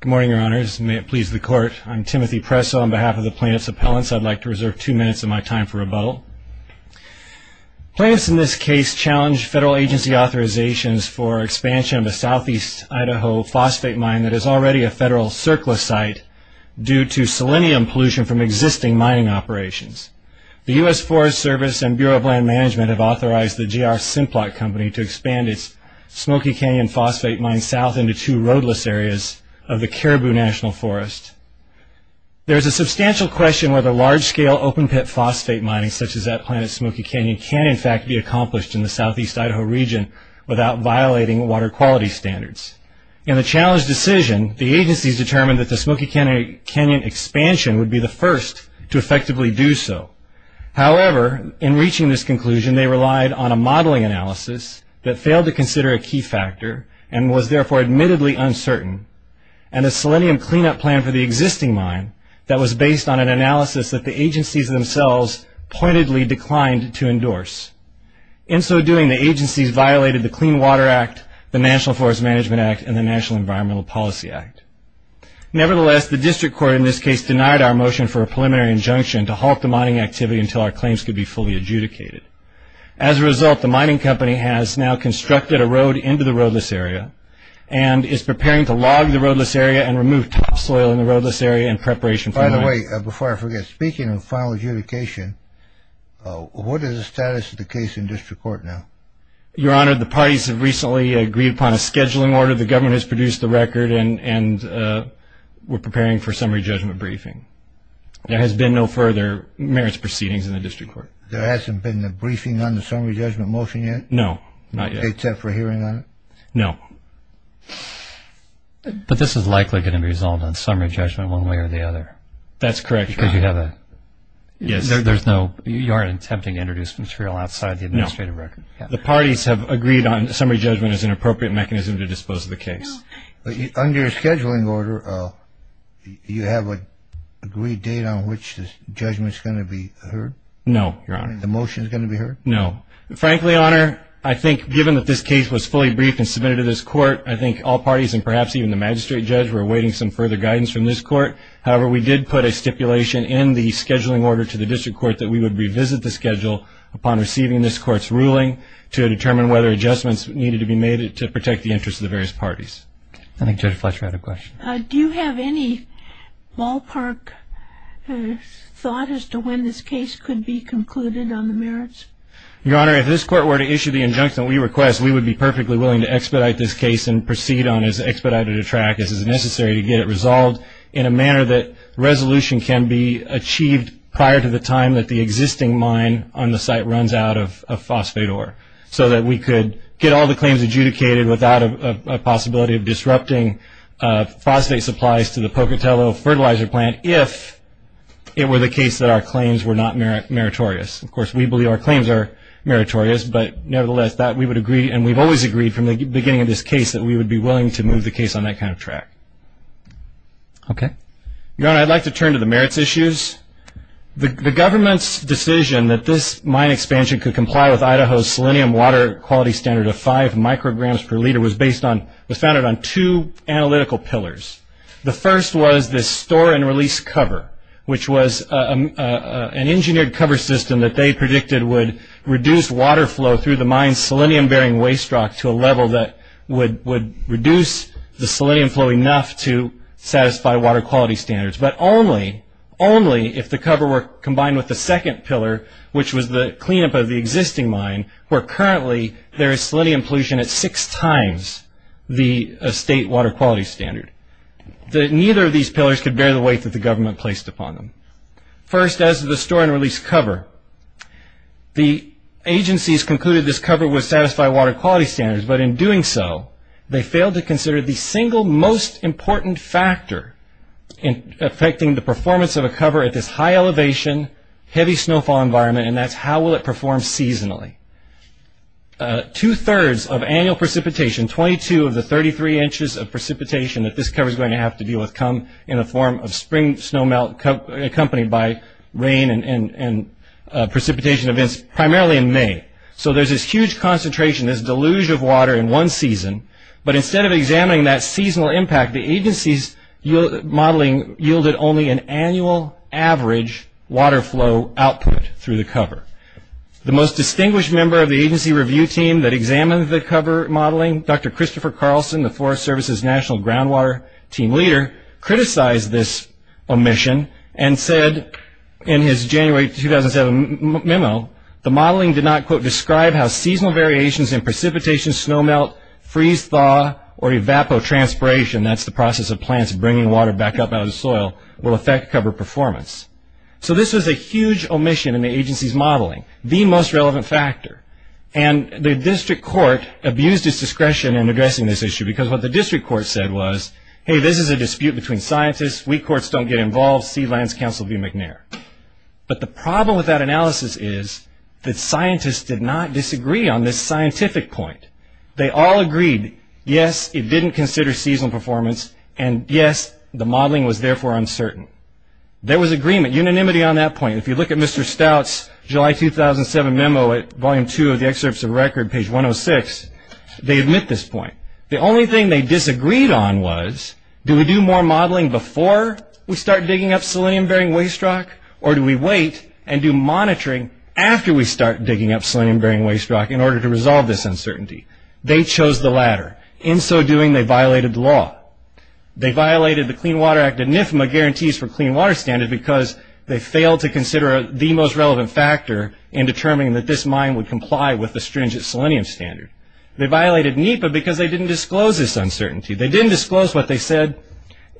Good morning, your honors. May it please the court. I'm Timothy Presso on behalf of the plaintiff's appellants. I'd like to reserve two minutes of my time for rebuttal. Plaintiffs in this case challenged federal agency authorizations for expansion of a southeast Idaho phosphate mine that is already a federal surplus site due to selenium pollution from existing mining operations. The U.S. Forest Service and Bureau of Land Management have authorized the GR Simplot Company to expand its Smoky Canyon phosphate mine south into two roadless areas of the Caribou National Forest. There is a substantial question whether large scale open pit phosphate mining such as at Planet Smoky Canyon can in fact be accomplished in the southeast Idaho region without violating water quality standards. In the challenged decision, the agencies determined that the Smoky Canyon expansion would be the first to effectively do so. However, in reaching this conclusion, they relied on a modeling analysis that failed to consider a key factor and was therefore admittedly uncertain and a selenium cleanup plan for the existing mine that was based on an analysis that the agencies themselves pointedly declined to endorse. In so doing, the agencies violated the Clean Water Act, the National Forest Management Act, and the National Environmental Policy Act. Nevertheless, the district court in this case denied our motion for a preliminary injunction to halt the mining activity until our claims could be fully adjudicated. As a result, the mining company has now constructed a road into the roadless area and is preparing to log the roadless area and remove topsoil in the roadless area in preparation for mining. By the way, before I forget, speaking of final adjudication, what is the status of the case in district court now? Your Honor, the parties have recently agreed upon a scheduling order. The government has produced the record and we're preparing for summary judgment briefing. There has been no further merits proceedings in the district court. There hasn't been a briefing on the summary judgment motion yet? No, not yet. Except for hearing on it? No. But this is likely going to be resolved on summary judgment one way or the other. That's correct, Your Honor. Because you have a... Yes. There's no... You aren't attempting to introduce material outside the administrative record? No. The parties have agreed on summary judgment as an appropriate mechanism to dispose of the case. Under a scheduling order, you have an agreed date on which the judgment is going to be heard? No, Your Honor. The motion is going to be heard? No. Frankly, Your Honor, I think given that this case was fully briefed and submitted to this court, I think all parties and perhaps even the magistrate judge were awaiting some further guidance from this court. However, we did put a stipulation in the scheduling order to the district court that we would revisit the schedule upon receiving this court's ruling to determine whether adjustments needed to be made to protect the interests of the various parties. I think Judge Fletcher had a question. Do you have any ballpark thought as to when this case could be concluded on the merits? Your Honor, if this court were to issue the injunction that we request, we would be perfectly willing to expedite this case and proceed on as expedited a track as is necessary to get it resolved in a manner that resolution can be achieved prior to the time that the existing mine on the site runs out of phosphate ore so that we could get all the claims adjudicated without a possibility of disrupting phosphate supplies to the Pocatello Fertilizer Plant if it were the case that our claims were not meritorious. Of course, we believe our claims are meritorious, but nevertheless, we would agree, and we've always agreed from the beginning of this case, that we would be willing to move the case on that kind of track. Your Honor, I'd like to turn to the merits issues. The government's decision that this mine expansion could comply with Idaho's selenium water quality standard of five micrograms per liter was founded on two analytical pillars. The first was this store and release cover, which was an engineered cover system that they predicted would reduce water flow through the mine's selenium-bearing waste rock to a level that would reduce the selenium flow enough to satisfy water quality standards, but only if the cover were combined with the second pillar, which was the cleanup of the existing mine, where currently there is selenium pollution at six times the state water quality standard. Neither of these pillars could bear the weight that the government placed upon them. First, as to the store and release cover, the agencies concluded this cover would satisfy water quality standards, but in doing so, they failed to consider the single most important factor affecting the performance of a cover at this high elevation, heavy snowfall environment, and that's how will it perform seasonally. Two-thirds of annual precipitation, 22 of the 33 inches of precipitation that this cover is going to have to deal with will come in the form of spring snowmelt accompanied by rain and precipitation events primarily in May. So there's this huge concentration, this deluge of water in one season, but instead of examining that seasonal impact, the agency's modeling yielded only an annual average water flow output through the cover. The most distinguished member of the agency review team that examined the cover modeling, Dr. Christopher Carlson, the Forest Service's National Groundwater Team Leader, criticized this omission and said in his January 2007 memo, the modeling did not, quote, describe how seasonal variations in precipitation, snowmelt, freeze-thaw, or evapotranspiration, that's the process of plants bringing water back up out of the soil, will affect cover performance. So this was a huge omission in the agency's modeling, the most relevant factor, and the district court abused its discretion in addressing this issue because what the district court said was, hey, this is a dispute between scientists, we courts don't get involved, see Lands Council v. McNair. But the problem with that analysis is that scientists did not disagree on this scientific point. They all agreed, yes, it didn't consider seasonal performance, and yes, the modeling was therefore uncertain. There was agreement, unanimity on that point. If you look at Mr. Stout's July 2007 memo at Volume 2 of the Excerpts of Record, page 106, they admit this point. The only thing they disagreed on was, do we do more modeling before we start digging up selenium-bearing waste rock, or do we wait and do monitoring after we start digging up selenium-bearing waste rock in order to resolve this uncertainty? They chose the latter. In so doing, they violated the law. They violated the Clean Water Act and NIFMA guarantees for clean water standards because they failed to consider the most relevant factor in determining that this mine would comply with the stringent selenium standard. They violated NEPA because they didn't disclose this uncertainty. They didn't disclose what they said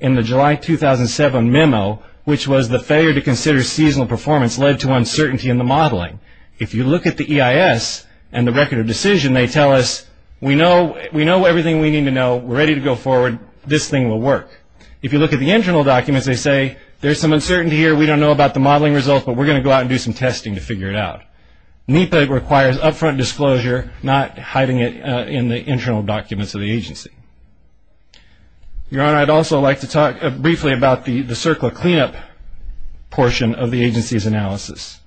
in the July 2007 memo, which was the failure to consider seasonal performance led to uncertainty in the modeling. If you look at the EIS and the Record of Decision, they tell us, we know everything we need to know, we're ready to go forward, this thing will work. If you look at the internal documents, they say, there's some uncertainty here, we don't know about the modeling results, but we're going to go out and do some testing to figure it out. NEPA requires upfront disclosure, not hiding it in the internal documents of the agency. Your Honor, I'd also like to talk briefly about the circle of cleanup portion of the agency's analysis.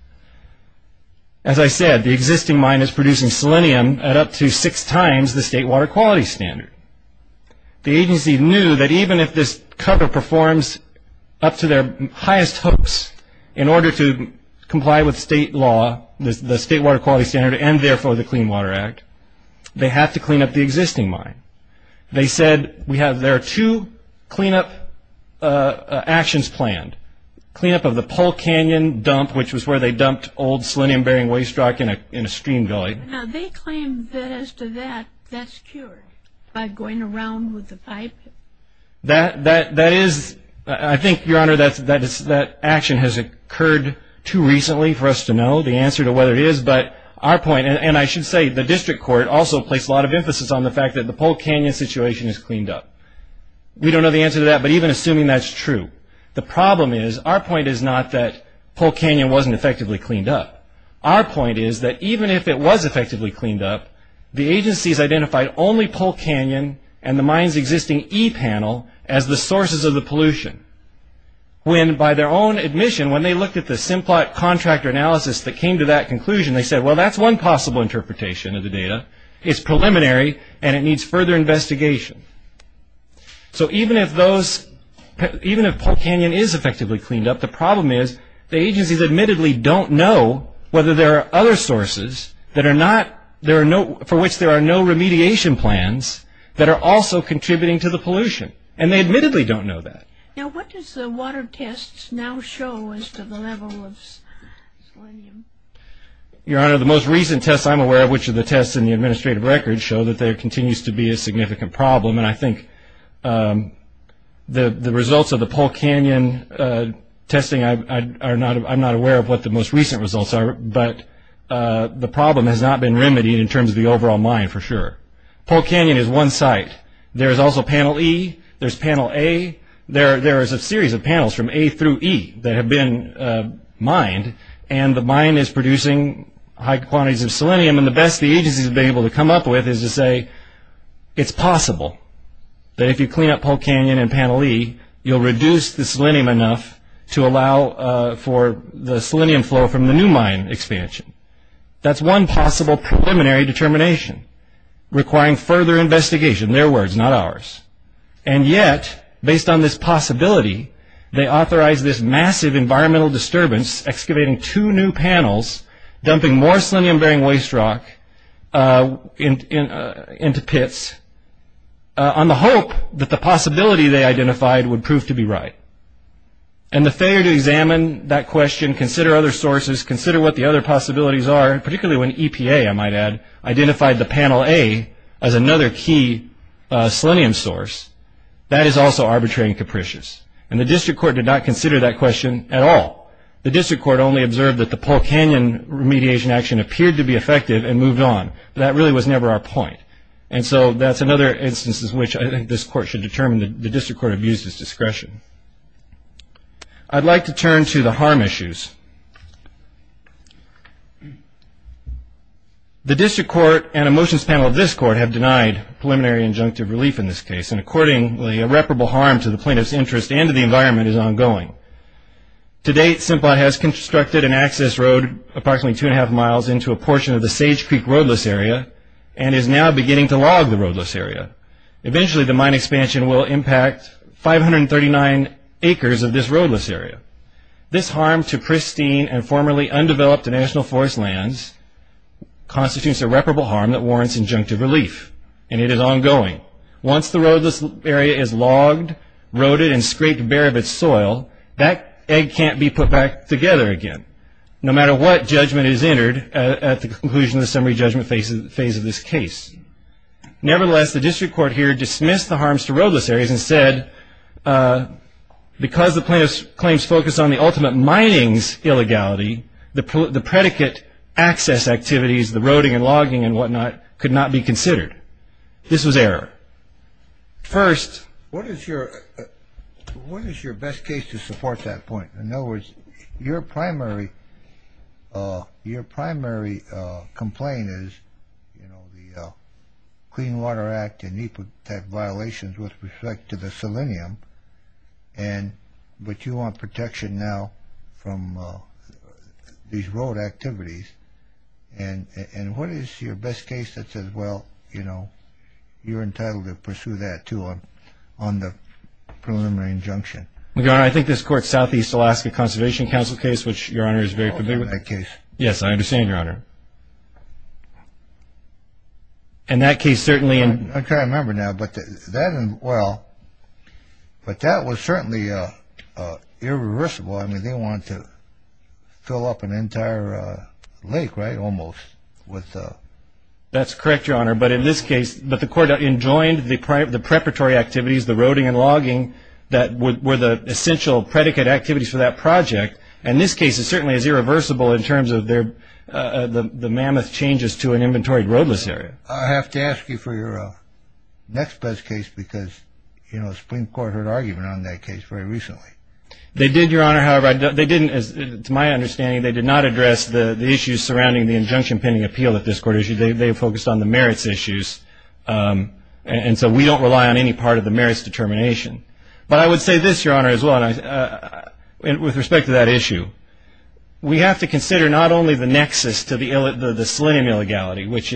As I said, the existing mine is producing selenium at up to six times the state water quality standard. The agency knew that even if this cover performs up to their highest hopes in order to comply with state law, the state water quality standard, and therefore the Clean Water Act, they have to clean up the existing mine. They said, there are two cleanup actions planned. Cleanup of the Pole Canyon dump, which was where they dumped old selenium-bearing waste rock in a stream valley. Now, they claim that as to that, that's cured by going around with the pipe. That is, I think, Your Honor, that action has occurred too recently for us to know the answer to whether it is, but our point, and I should say, the district court also placed a lot of emphasis on the fact that the Pole Canyon situation is cleaned up. We don't know the answer to that, but even assuming that's true, the problem is, our point is not that Pole Canyon wasn't effectively cleaned up. Our point is that even if it was effectively cleaned up, the agencies identified only Pole Canyon and the mine's existing e-panel as the sources of the pollution. When, by their own admission, when they looked at the Simplot contractor analysis that came to that conclusion, they said, well, that's one possible interpretation of the data. It's preliminary, and it needs further investigation. So even if those, even if Pole Canyon is effectively cleaned up, the problem is the agencies admittedly don't know whether there are other sources that are not, there are no, for which there are no remediation plans that are also contributing to the pollution, and they admittedly don't know that. Now what does the water tests now show as to the level of selenium? Your Honor, the most recent tests I'm aware of, which are the tests in the administrative records, show that there continues to be a significant problem, and I think the results of the Pole Canyon testing, I'm not aware of what the most recent results are, but the problem has not been remedied in terms of the overall mine for sure. Pole Canyon is one site. There is also Panel E, there's Panel A, there is a series of panels from A through E that have been mined, and the mine is producing high quantities of selenium, and the best the agencies have been able to come up with is to say, it's possible that if you clean up Pole Canyon and Panel E, you'll reduce the selenium enough to allow for the selenium flow from the new mine expansion. That's one possible preliminary determination requiring further investigation, their words not ours, and yet based on this possibility, they authorize this massive environmental disturbance excavating two new panels, dumping more selenium-bearing waste rock into pits, on the hope that the possibility they identified would prove to be right, and the failure to examine that question, consider other sources, consider what the other possibilities are, particularly when EPA, I might add, identified the Panel A as another key selenium source, that is also arbitrary and capricious, and the district court did not consider that question at all. The district court only observed that the Pole Canyon remediation action appeared to be effective and moved on, but that really was never our point, and so that's another instance in which I think this court should determine the district court abused its discretion. I'd like to turn to the harm issues. The district court and a motions panel of this court have denied preliminary injunctive relief in this case, and accordingly, irreparable harm to the plaintiff's interest and to the environment is ongoing. To date, Simplot has constructed an access road approximately two and a half miles into a portion of the Sage Creek roadless area, and is now beginning to log the roadless area. Eventually, the mine expansion will impact 539 acres of this roadless area. This harm to pristine and formerly undeveloped national forest lands constitutes irreparable harm that warrants injunctive relief, and it is ongoing. Once the roadless area is logged, roaded, and scraped bare of its soil, that egg can't be put back together again, no matter what judgment is entered at the conclusion of the summary judgment phase of this case. Nevertheless, the district court here dismissed the harms to roadless areas and said because the plaintiff's claims focus on the ultimate mining's illegality, the predicate access activities, the roading and logging and whatnot, could not be considered. This was error. First. What is your best case to support that point? In other words, your primary complaint is, you know, the Clean Water Act and NEPA type violations with respect to the selenium, but you want protection now from these road activities. And what is your best case that says, well, you know, you're entitled to pursue that, too, on the preliminary injunction? Your Honor, I think this court's Southeast Alaska Conservation Council case, which Your Honor is very familiar with. Yes, I understand, Your Honor. In that case, certainly. I can't remember now, but that was certainly irreversible. I mean, they wanted to fill up an entire lake, right, almost. That's correct, Your Honor. But in this case, the court enjoined the preparatory activities, the roading and logging, that were the essential predicate activities for that project. In this case, it certainly is irreversible in terms of the mammoth changes to an inventory roadless area. I have to ask you for your next best case because, you know, the Supreme Court heard argument on that case very recently. They did, Your Honor. However, they didn't, to my understanding, they did not address the issues surrounding the injunction pending appeal that this court issued. They focused on the merits issues. And so we don't rely on any part of the merits determination. But I would say this, Your Honor, as well, with respect to that issue. We have to consider not only the nexus to the selenium illegality, which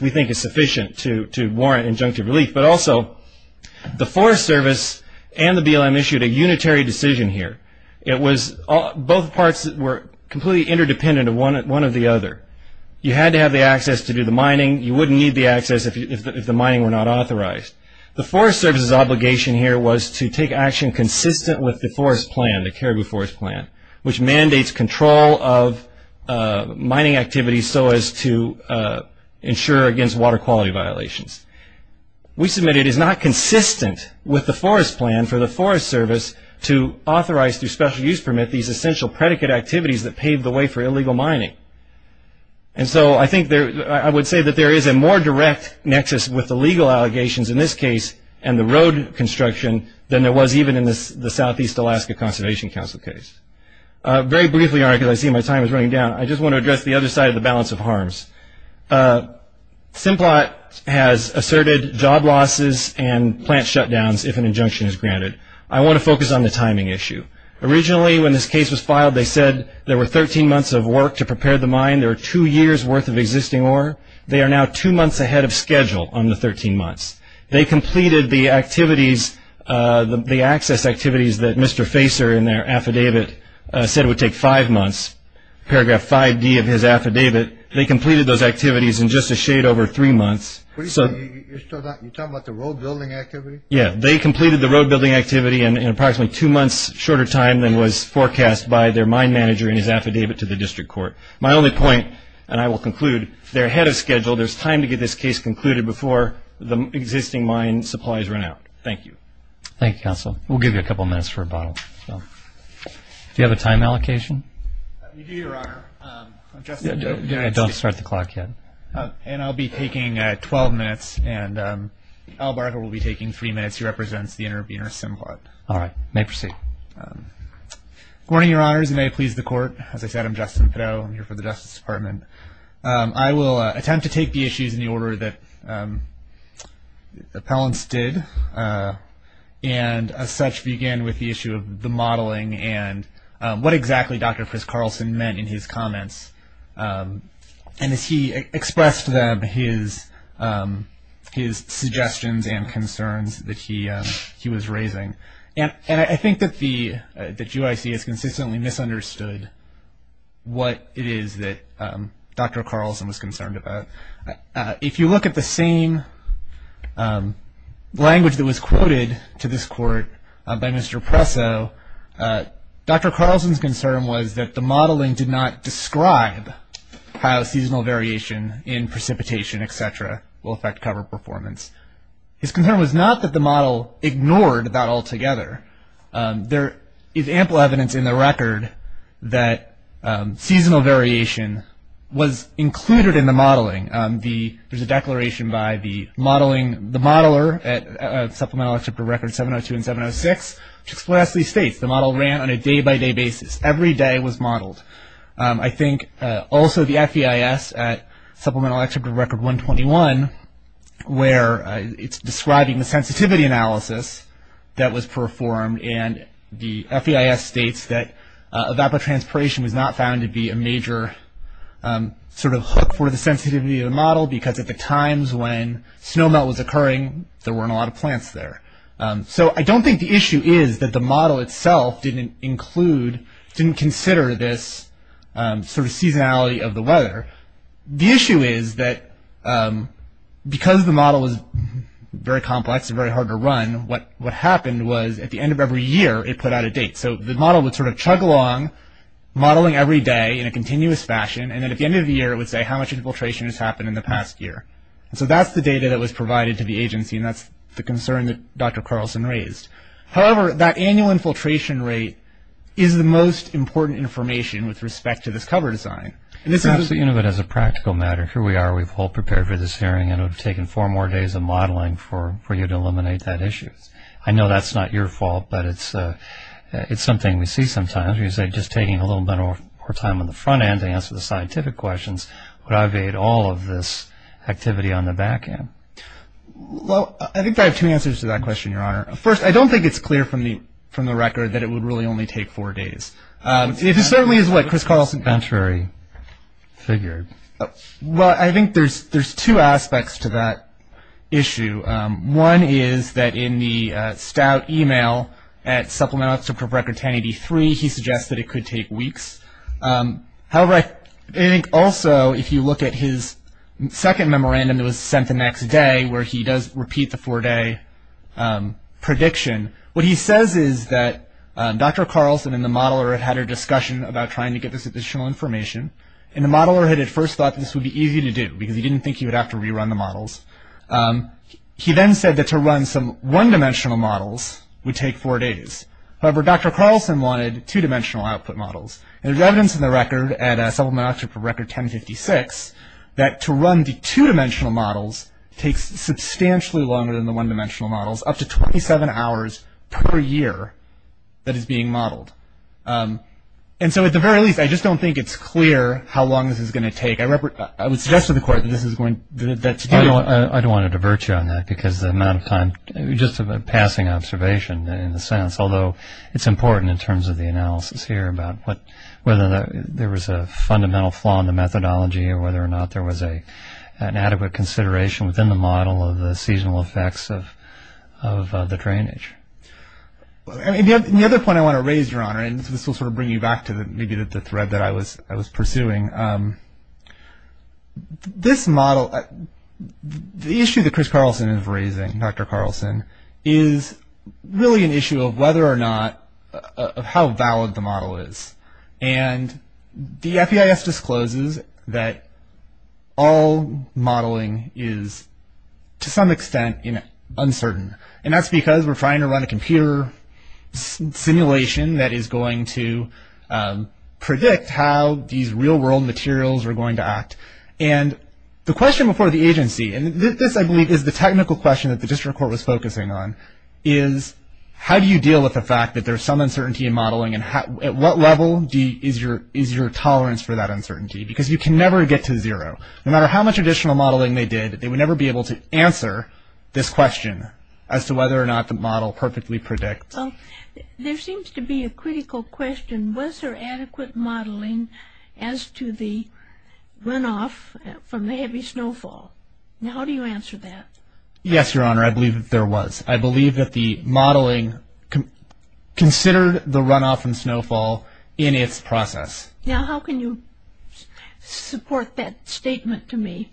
we think is sufficient to warrant injunctive relief, but also the Forest Service and the BLM issued a unitary decision here. Both parts were completely interdependent of one of the other. You had to have the access to do the mining. You wouldn't need the access if the mining were not authorized. The Forest Service's obligation here was to take action consistent with the forest plan, the Caribou Forest Plan, which mandates control of mining activities so as to ensure against water quality violations. We submit it is not consistent with the forest plan for the Forest Service to authorize through special use permit these essential predicate activities that pave the way for illegal mining. And so I would say that there is a more direct nexus with the legal allegations in this case and the road construction than there was even in the Southeast Alaska Conservation Council case. Very briefly, Your Honor, because I see my time is running down, Simplot has asserted job losses and plant shutdowns if an injunction is granted. I want to focus on the timing issue. Originally, when this case was filed, they said there were 13 months of work to prepare the mine. There were two years' worth of existing ore. They are now two months ahead of schedule on the 13 months. They completed the access activities that Mr. Facer in their affidavit said would take five months. Paragraph 5D of his affidavit, they completed those activities in just a shade over three months. You're talking about the road building activity? Yeah, they completed the road building activity in approximately two months' shorter time than was forecast by their mine manager in his affidavit to the district court. My only point, and I will conclude, they're ahead of schedule. There's time to get this case concluded before the existing mine supplies run out. Thank you. Thank you, Counselor. We'll give you a couple minutes for rebuttal. Do you have a time allocation? I do, Your Honor. Don't start the clock yet. I'll be taking 12 minutes, and Al Barker will be taking three minutes. He represents the Intervenor Symbiote. All right. May proceed. Good morning, Your Honors, and may it please the Court. As I said, I'm Justin Fiddeau. I'm here for the Justice Department. I will attempt to take the issues in the order that the appellants did, and as such begin with the issue of the modeling and what exactly Dr. Chris Carlson meant in his comments. And as he expressed to them his suggestions and concerns that he was raising. And I think that the GYC has consistently misunderstood what it is that Dr. Carlson was concerned about. If you look at the same language that was quoted to this Court by Mr. Presso, Dr. Carlson's concern was that the modeling did not describe how seasonal variation in precipitation, et cetera, will affect cover performance. His concern was not that the model ignored that altogether. There is ample evidence in the record that seasonal variation was included in the modeling. There's a declaration by the modeler at Supplemental Exhibit Record 702 and 706, which explicitly states, the model ran on a day-by-day basis. Every day was modeled. I think also the FEIS at Supplemental Exhibit Record 121, where it's describing the sensitivity analysis that was performed, and the FEIS states that evapotranspiration was not found to be a major sort of hook for the sensitivity of the model, because at the times when snowmelt was occurring, there weren't a lot of plants there. So I don't think the issue is that the model itself didn't include, didn't consider this sort of seasonality of the weather. The issue is that because the model was very complex and very hard to run, what happened was at the end of every year it put out a date. So the model would sort of chug along, modeling every day in a continuous fashion, and then at the end of the year it would say how much infiltration has happened in the past year. And so that's the data that was provided to the agency, and that's the concern that Dr. Carlson raised. However, that annual infiltration rate is the most important information with respect to this cover design. You know, but as a practical matter, here we are, we've all prepared for this hearing, and it would have taken four more days of modeling for you to eliminate that issue. I know that's not your fault, but it's something we see sometimes, where you say just taking a little bit more time on the front end to answer the scientific questions would have evaded all of this activity on the back end. Well, I think I have two answers to that question, Your Honor. First, I don't think it's clear from the record that it would really only take four days. It certainly is what, Chris Carlson? Well, I think there's two aspects to that issue. One is that in the stout e-mail at Supplemental Excerpt from Record 1083, he suggests that it could take weeks. However, I think also if you look at his second memorandum that was sent the next day, where he does repeat the four-day prediction, what he says is that Dr. Carlson and the modeler had had a discussion about trying to get this additional information, and the modeler had at first thought this would be easy to do, because he didn't think he would have to rerun the models. He then said that to run some one-dimensional models would take four days. However, Dr. Carlson wanted two-dimensional output models, and there's evidence in the record at Supplemental Excerpt from Record 1056 that to run the two-dimensional models takes substantially longer than the one-dimensional models, up to 27 hours per year that is being modeled. And so at the very least, I just don't think it's clear how long this is going to take. I would suggest to the Court that this is going to do it. I don't want to divert you on that, because the amount of time, just a passing observation in a sense, although it's important in terms of the analysis here about whether there was a fundamental flaw in the methodology or whether or not there was an adequate consideration within the model of the seasonal effects of the drainage. And the other point I want to raise, Your Honor, and this will sort of bring you back to maybe the thread that I was pursuing, this model, the issue that Chris Carlson is raising, Dr. Carlson, is really an issue of whether or not, of how valid the model is. And the FEIS discloses that all modeling is, to some extent, uncertain. And that's because we're trying to run a computer simulation that is going to predict how these real-world materials are going to act. And the question before the agency, and this, I believe, is the technical question that the District Court was focusing on, is how do you deal with the fact that there's some uncertainty in modeling and at what level is your tolerance for that uncertainty? Because you can never get to zero. No matter how much additional modeling they did, they would never be able to answer this question as to whether or not the model perfectly predicts. Well, there seems to be a critical question. Was there adequate modeling as to the runoff from the heavy snowfall? Now, how do you answer that? Yes, Your Honor, I believe that there was. I believe that the modeling considered the runoff from snowfall in its process. Now, how can you support that statement to me?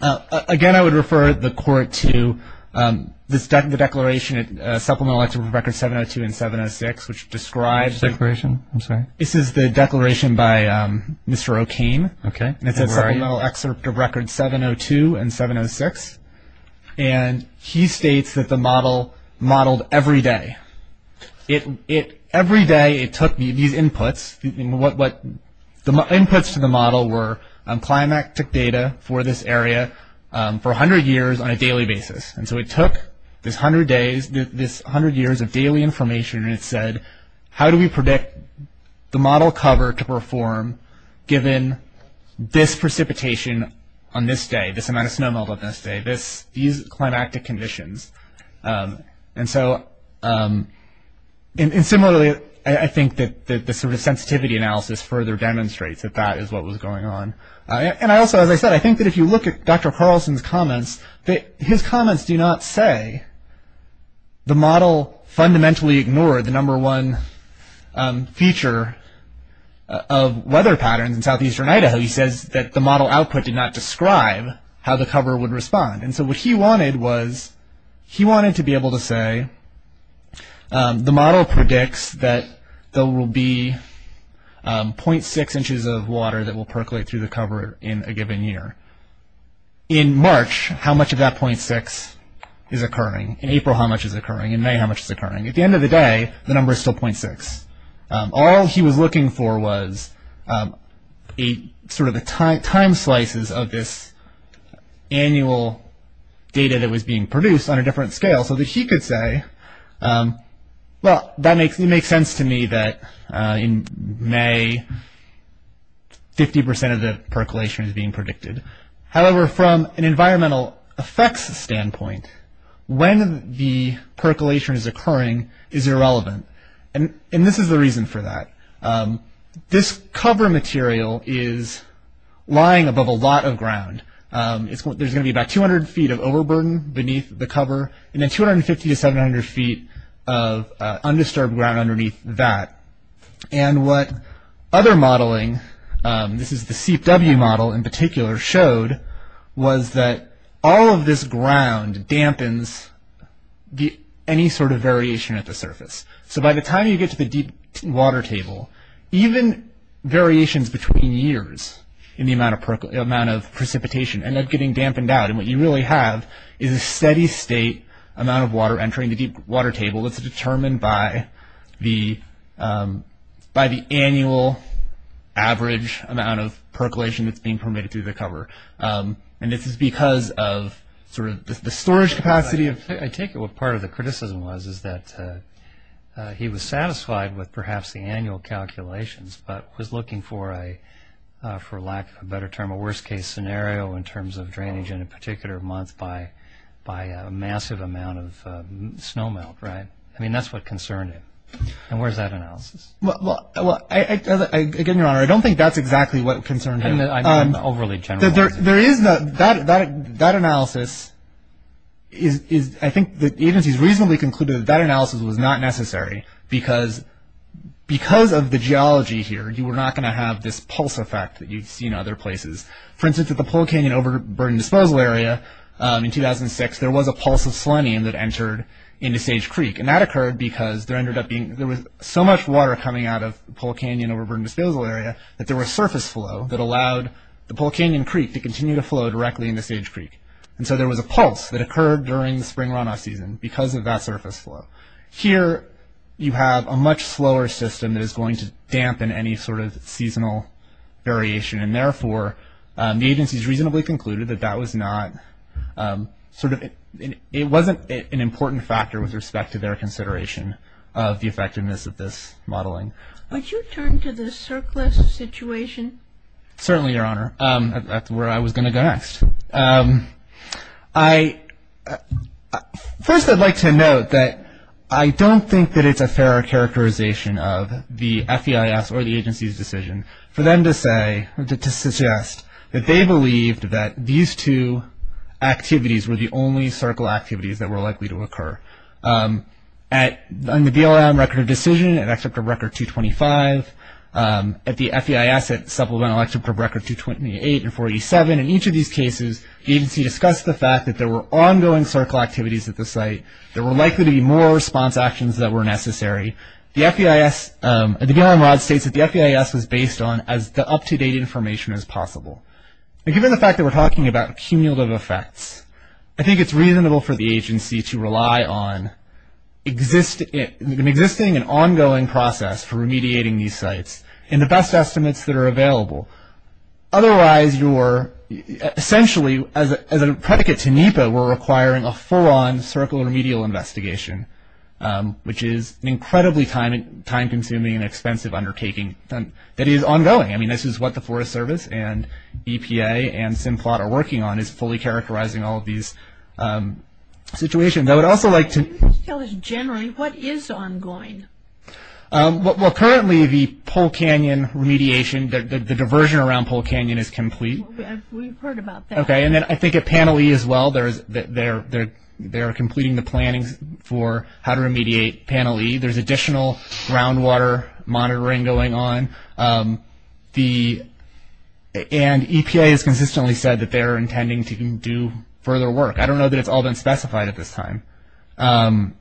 Again, I would refer the Court to the declaration, Supplemental Excerpt of Records 702 and 706, which describes the declaration by Mr. O'Kane. Okay. And it says Supplemental Excerpt of Records 702 and 706. And he states that the model modeled every day. Every day it took these inputs. The inputs to the model were climactic data for this area for 100 years on a daily basis. And so it took this 100 years of daily information and it said, how do we predict the model cover to perform given this precipitation on this day, these climactic conditions? And so, and similarly, I think that the sort of sensitivity analysis further demonstrates that that is what was going on. And I also, as I said, I think that if you look at Dr. Carlson's comments, that his comments do not say the model fundamentally ignored the number one feature of weather patterns in southeastern Idaho. He says that the model output did not describe how the cover would respond. And so what he wanted was, he wanted to be able to say, the model predicts that there will be 0.6 inches of water that will percolate through the cover in a given year. In March, how much of that 0.6 is occurring? In April, how much is occurring? In May, how much is occurring? At the end of the day, the number is still 0.6. All he was looking for was sort of the time slices of this annual data that was being produced on a different scale so that he could say, well, it makes sense to me that in May, 50% of the percolation is being predicted. However, from an environmental effects standpoint, when the percolation is occurring is irrelevant. And this is the reason for that. This cover material is lying above a lot of ground. There's going to be about 200 feet of overburden beneath the cover and then 250 to 700 feet of undisturbed ground underneath that. And what other modeling, this is the CPW model in particular, showed was that all of this ground dampens any sort of variation at the surface. So by the time you get to the deep water table, even variations between years in the amount of precipitation end up getting dampened out. And what you really have is a steady state amount of water entering the deep water table that's determined by the annual average amount of percolation that's being permitted through the cover. And this is because of sort of the storage capacity of... I take it what part of the criticism was is that he was satisfied with perhaps the annual calculations but was looking for a, for lack of a better term, a worst case scenario in terms of drainage in a particular month by a massive amount of snow melt, right? I mean, that's what concerned him. And where's that analysis? Well, again, Your Honor, I don't think that's exactly what concerned him. I'm overly generalizing. That analysis is, I think the agency's reasonably concluded that that analysis was not necessary because of the geology here. You were not going to have this pulse effect that you'd see in other places. For instance, at the Pole Canyon Overburden Disposal Area in 2006, there was a pulse of selenium that entered into Sage Creek. And that occurred because there was so much water coming out of the Pole Canyon Overburden Disposal Area that there was surface flow that allowed the Pole Canyon Creek to continue to flow directly into Sage Creek. And so there was a pulse that occurred during the spring runoff season because of that surface flow. Here, you have a much slower system that is going to dampen any sort of seasonal variation. And therefore, the agency's reasonably concluded that that was not sort of – it wasn't an important factor with respect to their consideration of the effectiveness of this modeling. Would you turn to the surplus situation? Certainly, Your Honor. That's where I was going to go next. First, I'd like to note that I don't think that it's a fair characterization of the FEIS or the agency's decision for them to suggest that they believed that these two activities were the only circle activities that were likely to occur. On the BLM Record of Decision, at Excerpt of Record 225, at the FEIS at Supplemental Excerpt of Record 228 and 487, in each of these cases, the agency discussed the fact that there were ongoing circle activities at the site. There were likely to be more response actions that were necessary. The BLM Rod states that the FEIS was based on as the up-to-date information as possible. And given the fact that we're talking about cumulative effects, I think it's reasonable for the agency to rely on an existing and ongoing process for remediating these sites in the best estimates that are available. Otherwise, you're – essentially, as a predicate to NEPA, we're requiring a full-on circle remedial investigation, which is an incredibly time-consuming and expensive undertaking that is ongoing. I mean, this is what the Forest Service and EPA and Simplot are working on, is fully characterizing all of these situations. I would also like to – Can you just tell us generally what is ongoing? Well, currently, the Pole Canyon remediation, the diversion around Pole Canyon is complete. We've heard about that. Okay, and then I think at Panel E as well, there is – they're completing the planning for how to remediate Panel E. There's additional groundwater monitoring going on. The – and EPA has consistently said that they're intending to do further work. I don't know that it's all been specified at this time. Mr.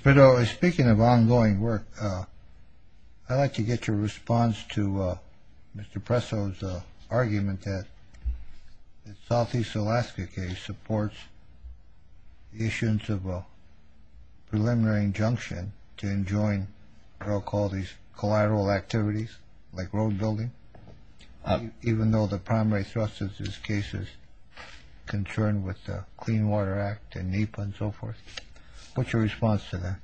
Perdo, speaking of ongoing work, I'd like to get your response to Mr. Presso's argument that the southeast Alaska case supports the issuance of a preliminary injunction to enjoin what I'll call these collateral activities, like road building, even though the primary thrust of this case is concerned with the Clean Water Act and NEPA and so forth. What's your response to that?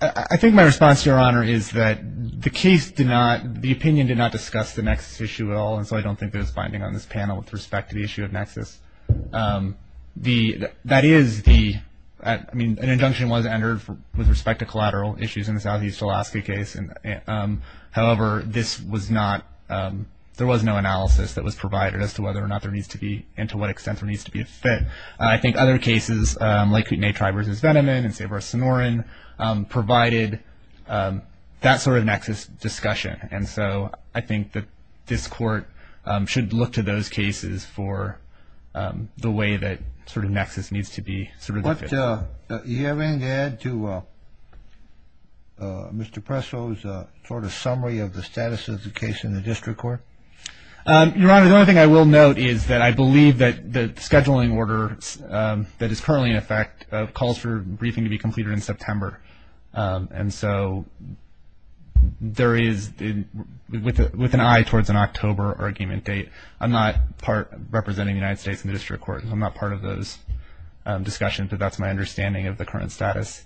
I think my response, Your Honor, is that the case did not – the opinion did not discuss the nexus issue at all, and so I don't think that it's binding on this panel with respect to the issue of nexus. That is the – I mean, an injunction was entered with respect to collateral issues in the southeast Alaska case. However, this was not – there was no analysis that was provided as to whether or not there needs to be and to what extent there needs to be a fit. I think other cases, like Kootenai Tribe v. Venneman and Save Our Sonoran, provided that sort of nexus discussion, and so I think that this Court should look to those cases for the way that sort of nexus needs to be sort of – Do you have anything to add to Mr. Presso's sort of summary of the status of the case in the district court? Your Honor, the only thing I will note is that I believe that the scheduling order that is currently in effect calls for a briefing to be completed in September, and so there is – with an eye towards an October argument date, I'm not part – representing the United States in the district court, so I'm not part of those discussions, but that's my understanding of the current status.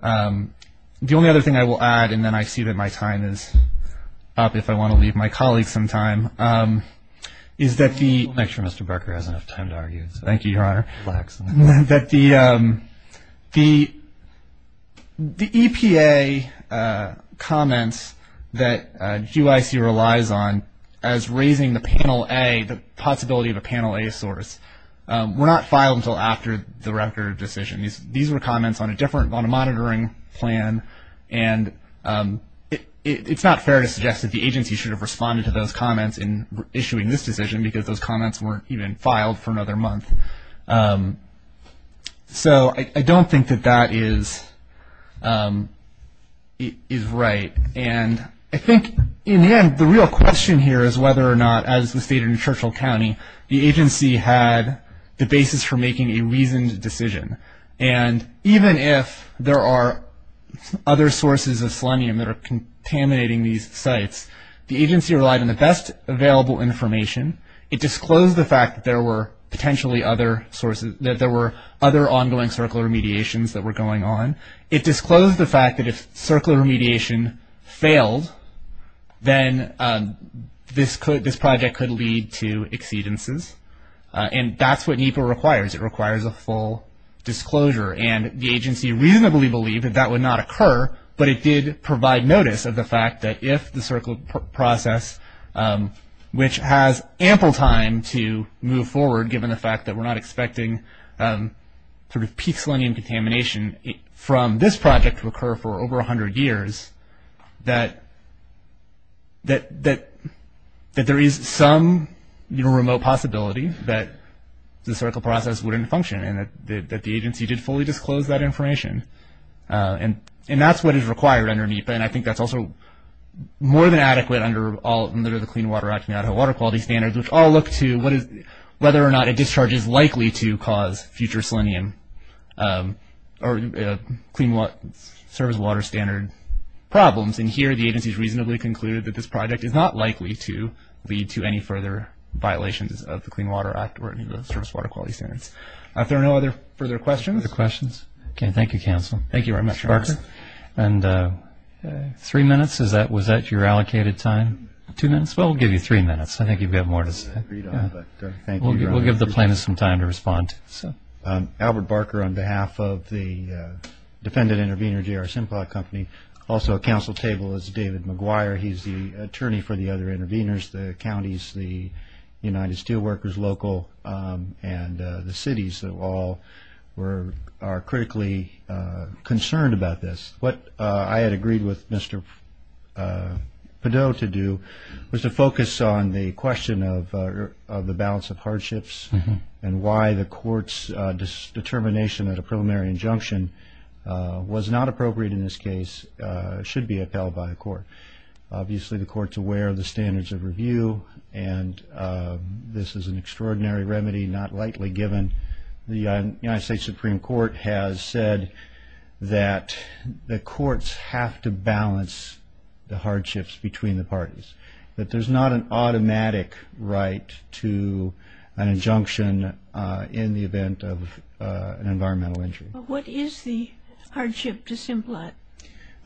The only other thing I will add, and then I see that my time is up if I want to leave my colleagues some time, is that the – Make sure Mr. Barker has enough time to argue. Thank you, Your Honor. Relax. That the EPA comments that GYC relies on as raising the panel A, the possibility of a panel A source, were not filed until after the record decision. These were comments on a different – on a monitoring plan, and it's not fair to suggest that the agency should have responded to those comments in issuing this decision because those comments weren't even filed for another month. So I don't think that that is right. And I think, in the end, the real question here is whether or not, as was stated in Churchill County, the agency had the basis for making a reasoned decision. And even if there are other sources of selenium that are contaminating these sites, the agency relied on the best available information. It disclosed the fact that there were potentially other sources – that there were other ongoing circular mediations that were going on. It disclosed the fact that if circular remediation failed, then this project could lead to exceedances. And that's what NEPA requires. It requires a full disclosure. And the agency reasonably believed that that would not occur, but it did provide notice of the fact that if the circular process, which has ample time to move forward given the fact that we're not expecting sort of peak selenium contamination from this project to occur for over 100 years, that there is some remote possibility that the circular process wouldn't function and that the agency did fully disclose that information. And that's what is required under NEPA, and I think that's also more than adequate under the Clean Water Act and the Idaho Water Quality Standards, which all look to whether or not a discharge is likely to cause future selenium or service water standard problems. And here the agency has reasonably concluded that this project is not likely to lead to any further violations of the Clean Water Act or any of the Service Water Quality Standards. Are there no other further questions? Okay, thank you, Counsel. Thank you very much, Mark. And three minutes, was that your allocated time? Two minutes? Well, we'll give you three minutes. I think you've got more to say. We'll give the plaintiffs some time to respond. Albert Barker on behalf of the defendant intervener, J.R. Simplot Company. Also at Council table is David McGuire. He's the attorney for the other interveners, the counties, the United Steelworkers local, and the cities that all are critically concerned about this. What I had agreed with Mr. Padot to do was to focus on the question of the balance of hardships and why the court's determination that a preliminary injunction was not appropriate in this case should be upheld by the court. Obviously, the court's aware of the standards of review, and this is an extraordinary remedy not lightly given. The United States Supreme Court has said that the courts have to balance the hardships between the parties, that there's not an automatic right to an injunction in the event of an environmental injury. What is the hardship to Simplot?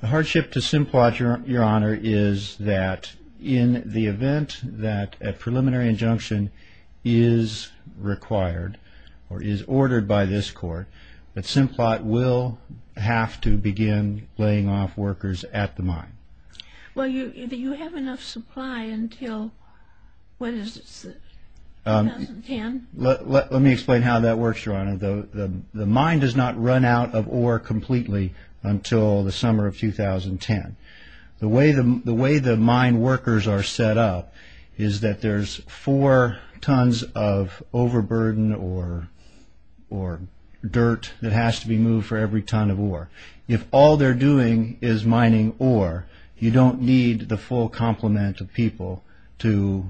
The hardship to Simplot, Your Honor, is that in the event that a preliminary injunction is required or is ordered by this court, that Simplot will have to begin laying off workers at the mine. Well, do you have enough supply until, what is it, 2010? Let me explain how that works, Your Honor. The mine does not run out of ore completely until the summer of 2010. The way the mine workers are set up is that there's four tons of overburden or dirt that has to be moved for every ton of ore. If all they're doing is mining ore, you don't need the full complement of people to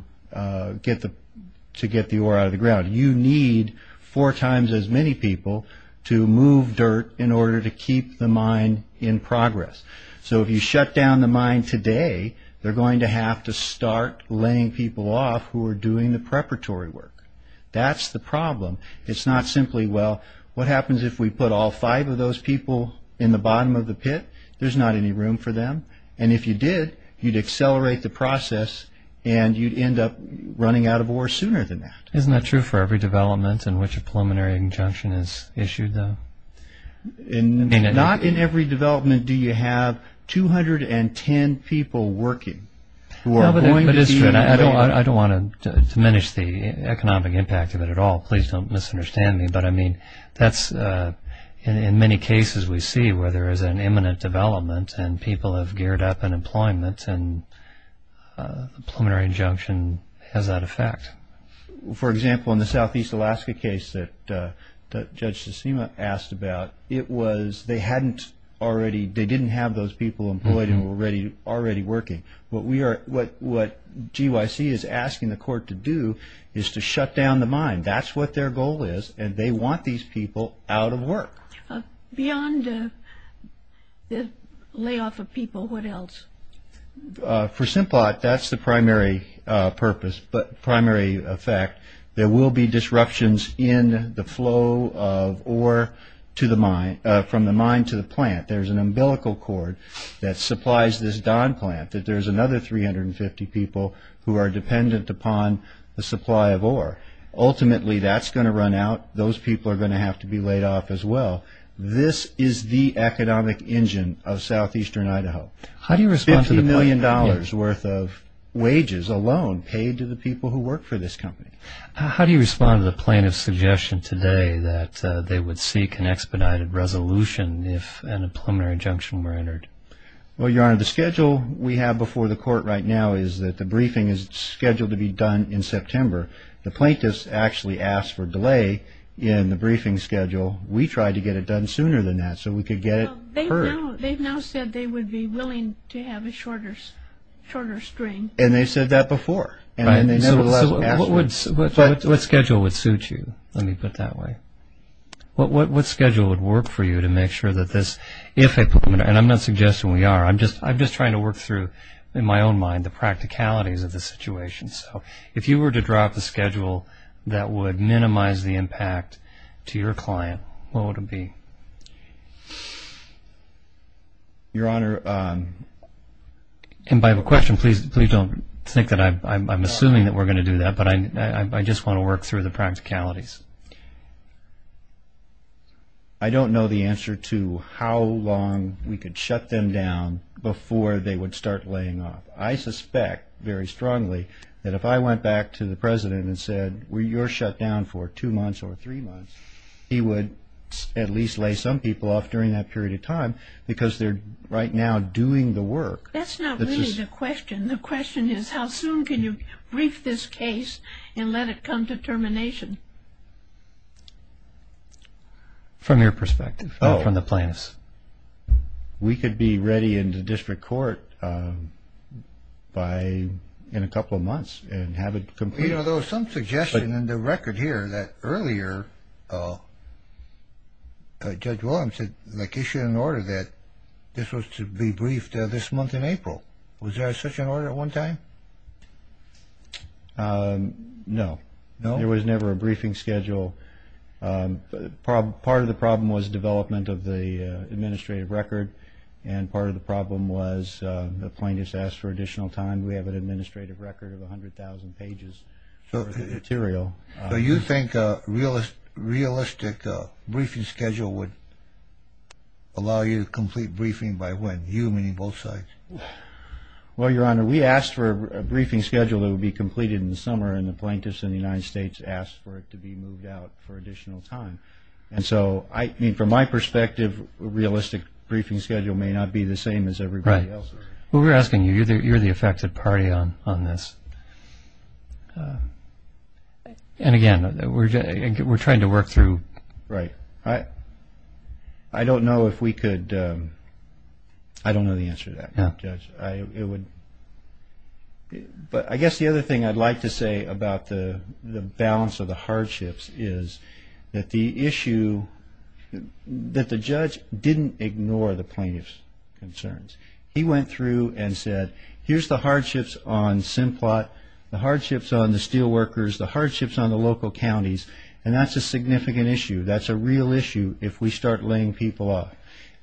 get the ore out of the ground. You need four times as many people to move dirt in order to keep the mine in progress. So if you shut down the mine today, they're going to have to start laying people off who are doing the preparatory work. That's the problem. It's not simply, well, what happens if we put all five of those people in the bottom of the pit? There's not any room for them. And if you did, you'd accelerate the process and you'd end up running out of ore sooner than that. Isn't that true for every development in which a preliminary injunction is issued, though? Not in every development do you have 210 people working. I don't want to diminish the economic impact of it at all. Please don't misunderstand me. But, I mean, in many cases we see where there is an imminent development and people have geared up in employment and a preliminary injunction has that effect. For example, in the Southeast Alaska case that Judge Tsitsima asked about, it was they didn't have those people employed and were already working. What GYC is asking the court to do is to shut down the mine. That's what their goal is, and they want these people out of work. Beyond the layoff of people, what else? For Simplot, that's the primary purpose, primary effect. There will be disruptions in the flow of ore from the mine to the plant. There's an umbilical cord that supplies this Don plant. There's another 350 people who are dependent upon the supply of ore. Ultimately, that's going to run out. Those people are going to have to be laid off as well. This is the economic engine of southeastern Idaho. $50 million worth of wages alone paid to the people who work for this company. How do you respond to the plaintiff's suggestion today that they would seek an expedited resolution if a preliminary injunction were entered? Well, Your Honor, the schedule we have before the court right now is that the briefing is scheduled to be done in September. The plaintiffs actually asked for delay in the briefing schedule. We tried to get it done sooner than that so we could get it heard. Well, they've now said they would be willing to have a shorter string. And they said that before. So what schedule would suit you, let me put it that way? What schedule would work for you to make sure that this, if a preliminary, and I'm not suggesting we are, I'm just trying to work through, in my own mind, the practicalities of the situation. So if you were to drop a schedule that would minimize the impact to your client, what would it be? Your Honor, I have a question. Please don't think that I'm assuming that we're going to do that, but I just want to work through the practicalities. I don't know the answer to how long we could shut them down before they would start laying off. I suspect very strongly that if I went back to the President and said you're shut down for two months or three months, he would at least lay some people off during that period of time because they're right now doing the work. That's not really the question. The question is how soon can you brief this case and let it come to termination? From your perspective or from the plaintiffs? We could be ready in the district court in a couple of months and have it completed. There was some suggestion in the record here that earlier Judge Williams had issued an order that this was to be briefed this month in April. Was there such an order at one time? No. There was never a briefing schedule. Part of the problem was development of the administrative record and part of the problem was the plaintiffs asked for additional time. We have an administrative record of 100,000 pages of material. So you think a realistic briefing schedule would allow you to complete briefing by when, you meaning both sides? Well, Your Honor, we asked for a briefing schedule that would be completed in the summer and the plaintiffs in the United States asked for it to be moved out for additional time. From my perspective, a realistic briefing schedule may not be the same as everybody else's. Right. We were asking you. You're the effective party on this. Again, we're trying to work through. Right. I don't know if we could. I don't know the answer to that, Judge. But I guess the other thing I'd like to say about the balance of the hardships is that the issue, that the judge didn't ignore the plaintiff's concerns. He went through and said, here's the hardships on Simplot, the hardships on the steel workers, the hardships on the local counties, and that's a significant issue. That's a real issue if we start laying people off.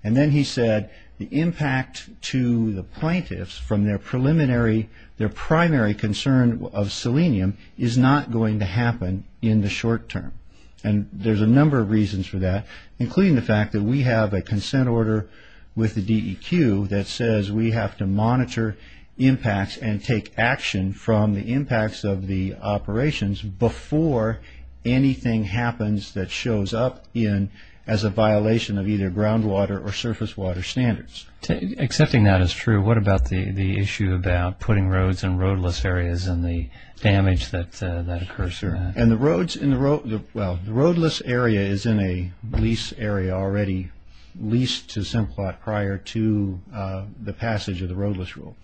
And then he said the impact to the plaintiffs from their preliminary, their primary concern of selenium is not going to happen in the short term. And there's a number of reasons for that, including the fact that we have a consent order with the DEQ that says we have to monitor impacts and take action from the impacts of the operations before anything happens that shows up as a violation of either groundwater or surface water standards. Accepting that as true, what about the issue about putting roads and roadless areas and the damage that occurs? Sure. And the roads in the road, well, the roadless area is in a lease area already leased to Simplot prior to the passage of the roadless rule.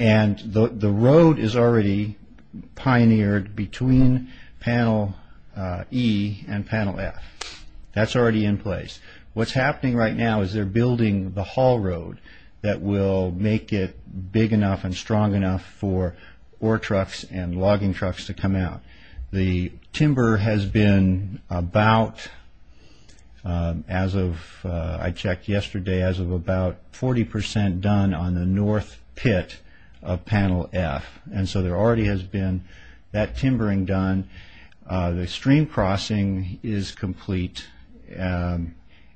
And the road is already pioneered between panel E and panel F. That's already in place. What's happening right now is they're building the haul road that will make it big enough and strong enough for ore trucks and logging trucks to come out. The timber has been about, as of, I checked yesterday, as of about 40 percent done on the north pit of panel F. And so there already has been that timbering done. The stream crossing is complete. And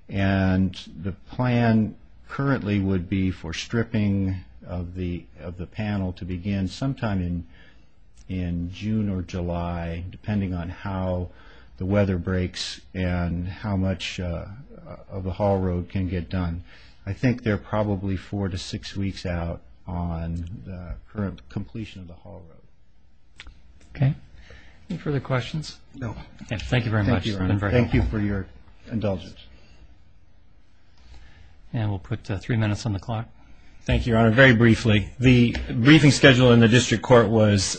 the plan currently would be for stripping of the panel to begin sometime in June or July, depending on how the weather breaks and how much of the haul road can get done. I think they're probably four to six weeks out on the current completion of the haul road. Okay. Any further questions? No. Thank you very much. Thank you for your indulgence. And we'll put three minutes on the clock. Thank you, Your Honor. Very briefly, the briefing schedule in the district court was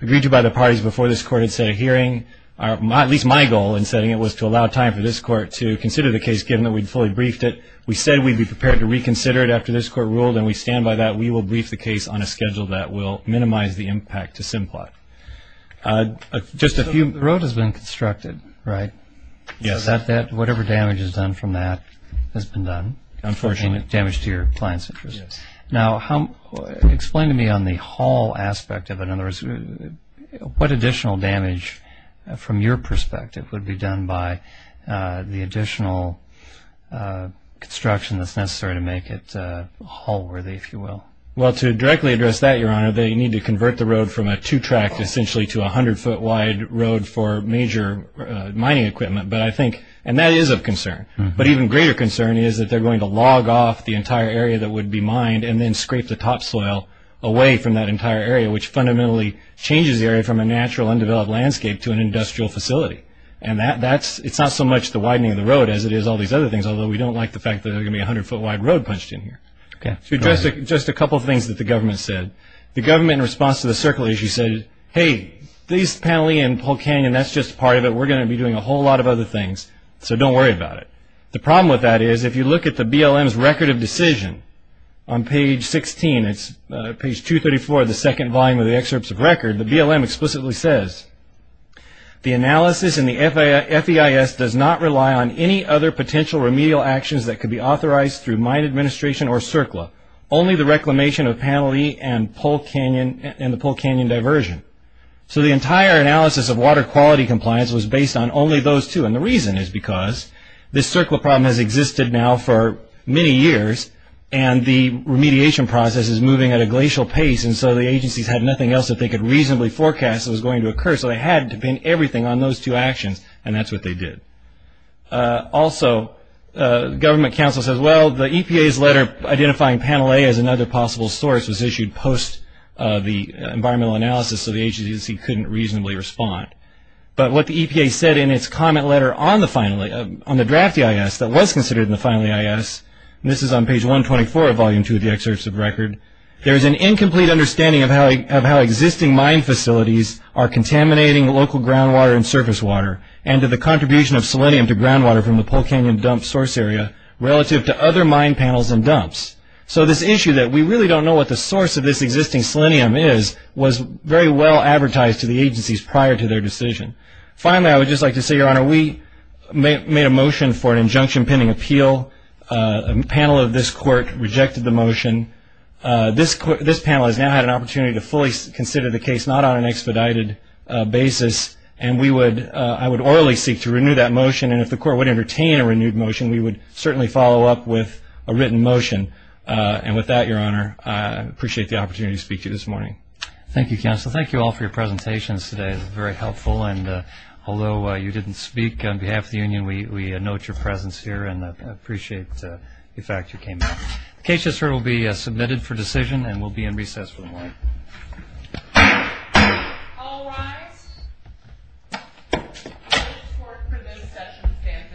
agreed to by the parties before this court had set a hearing. At least my goal in setting it was to allow time for this court to consider the case, given that we'd fully briefed it. We said we'd be prepared to reconsider it after this court ruled, and we stand by that. We will brief the case on a schedule that will minimize the impact to Simplot. Just a few. The road has been constructed, right? Yes. Whatever damage is done from that has been done? Unfortunately. Damage to your client's interest. Yes. Now, explain to me on the haul aspect of it. In other words, what additional damage, from your perspective, would be done by the additional construction that's necessary to make it haul-worthy, if you will? Well, to directly address that, Your Honor, they need to convert the road from a two-track, essentially, to a hundred-foot-wide road for major mining equipment. And that is of concern. But an even greater concern is that they're going to log off the entire area that would be mined and then scrape the topsoil away from that entire area, which fundamentally changes the area from a natural, undeveloped landscape to an industrial facility. And it's not so much the widening of the road as it is all these other things, although we don't like the fact that there's going to be a hundred-foot-wide road punched in here. Okay. To address just a couple of things that the government said, the government, in response to the circle issue, said, hey, this panelee in Polk Canyon, that's just part of it. We're going to be doing a whole lot of other things, so don't worry about it. The problem with that is, if you look at the BLM's record of decision on page 16, it's page 234, the second volume of the excerpts of record, the BLM explicitly says, the analysis in the FEIS does not rely on any other potential remedial actions that could be authorized through mine administration or CERCLA, only the reclamation of panelee and the Polk Canyon diversion. So the entire analysis of water quality compliance was based on only those two, and the reason is because this CERCLA problem has existed now for many years, and the remediation process is moving at a glacial pace, and so the agencies had nothing else that they could reasonably forecast was going to occur, so they had to pin everything on those two actions, and that's what they did. Also, government counsel says, well, the EPA's letter identifying panel A as another possible source was issued post the environmental analysis, so the agency couldn't reasonably respond, but what the EPA said in its comment letter on the draft EIS that was considered in the final EIS, and this is on page 124 of volume two of the excerpts of record, there's an incomplete understanding of how existing mine facilities are contaminating local groundwater and surface water, and to the contribution of selenium to groundwater from the Polk Canyon dump source area relative to other mine panels and dumps. So this issue that we really don't know what the source of this existing selenium is was very well advertised to the agencies prior to their decision. Finally, I would just like to say, Your Honor, we made a motion for an injunction pending appeal. A panel of this court rejected the motion. This panel has now had an opportunity to fully consider the case not on an expedited basis, and I would orally seek to renew that motion, and if the court would entertain a renewed motion, we would certainly follow up with a written motion. And with that, Your Honor, I appreciate the opportunity to speak to you this morning. Thank you, counsel. Thank you all for your presentations today. It was very helpful, and although you didn't speak on behalf of the union, we note your presence here and appreciate the fact you came out. The case will be submitted for decision and will be in recess for the morning. All rise. The court for this session stands adjourned.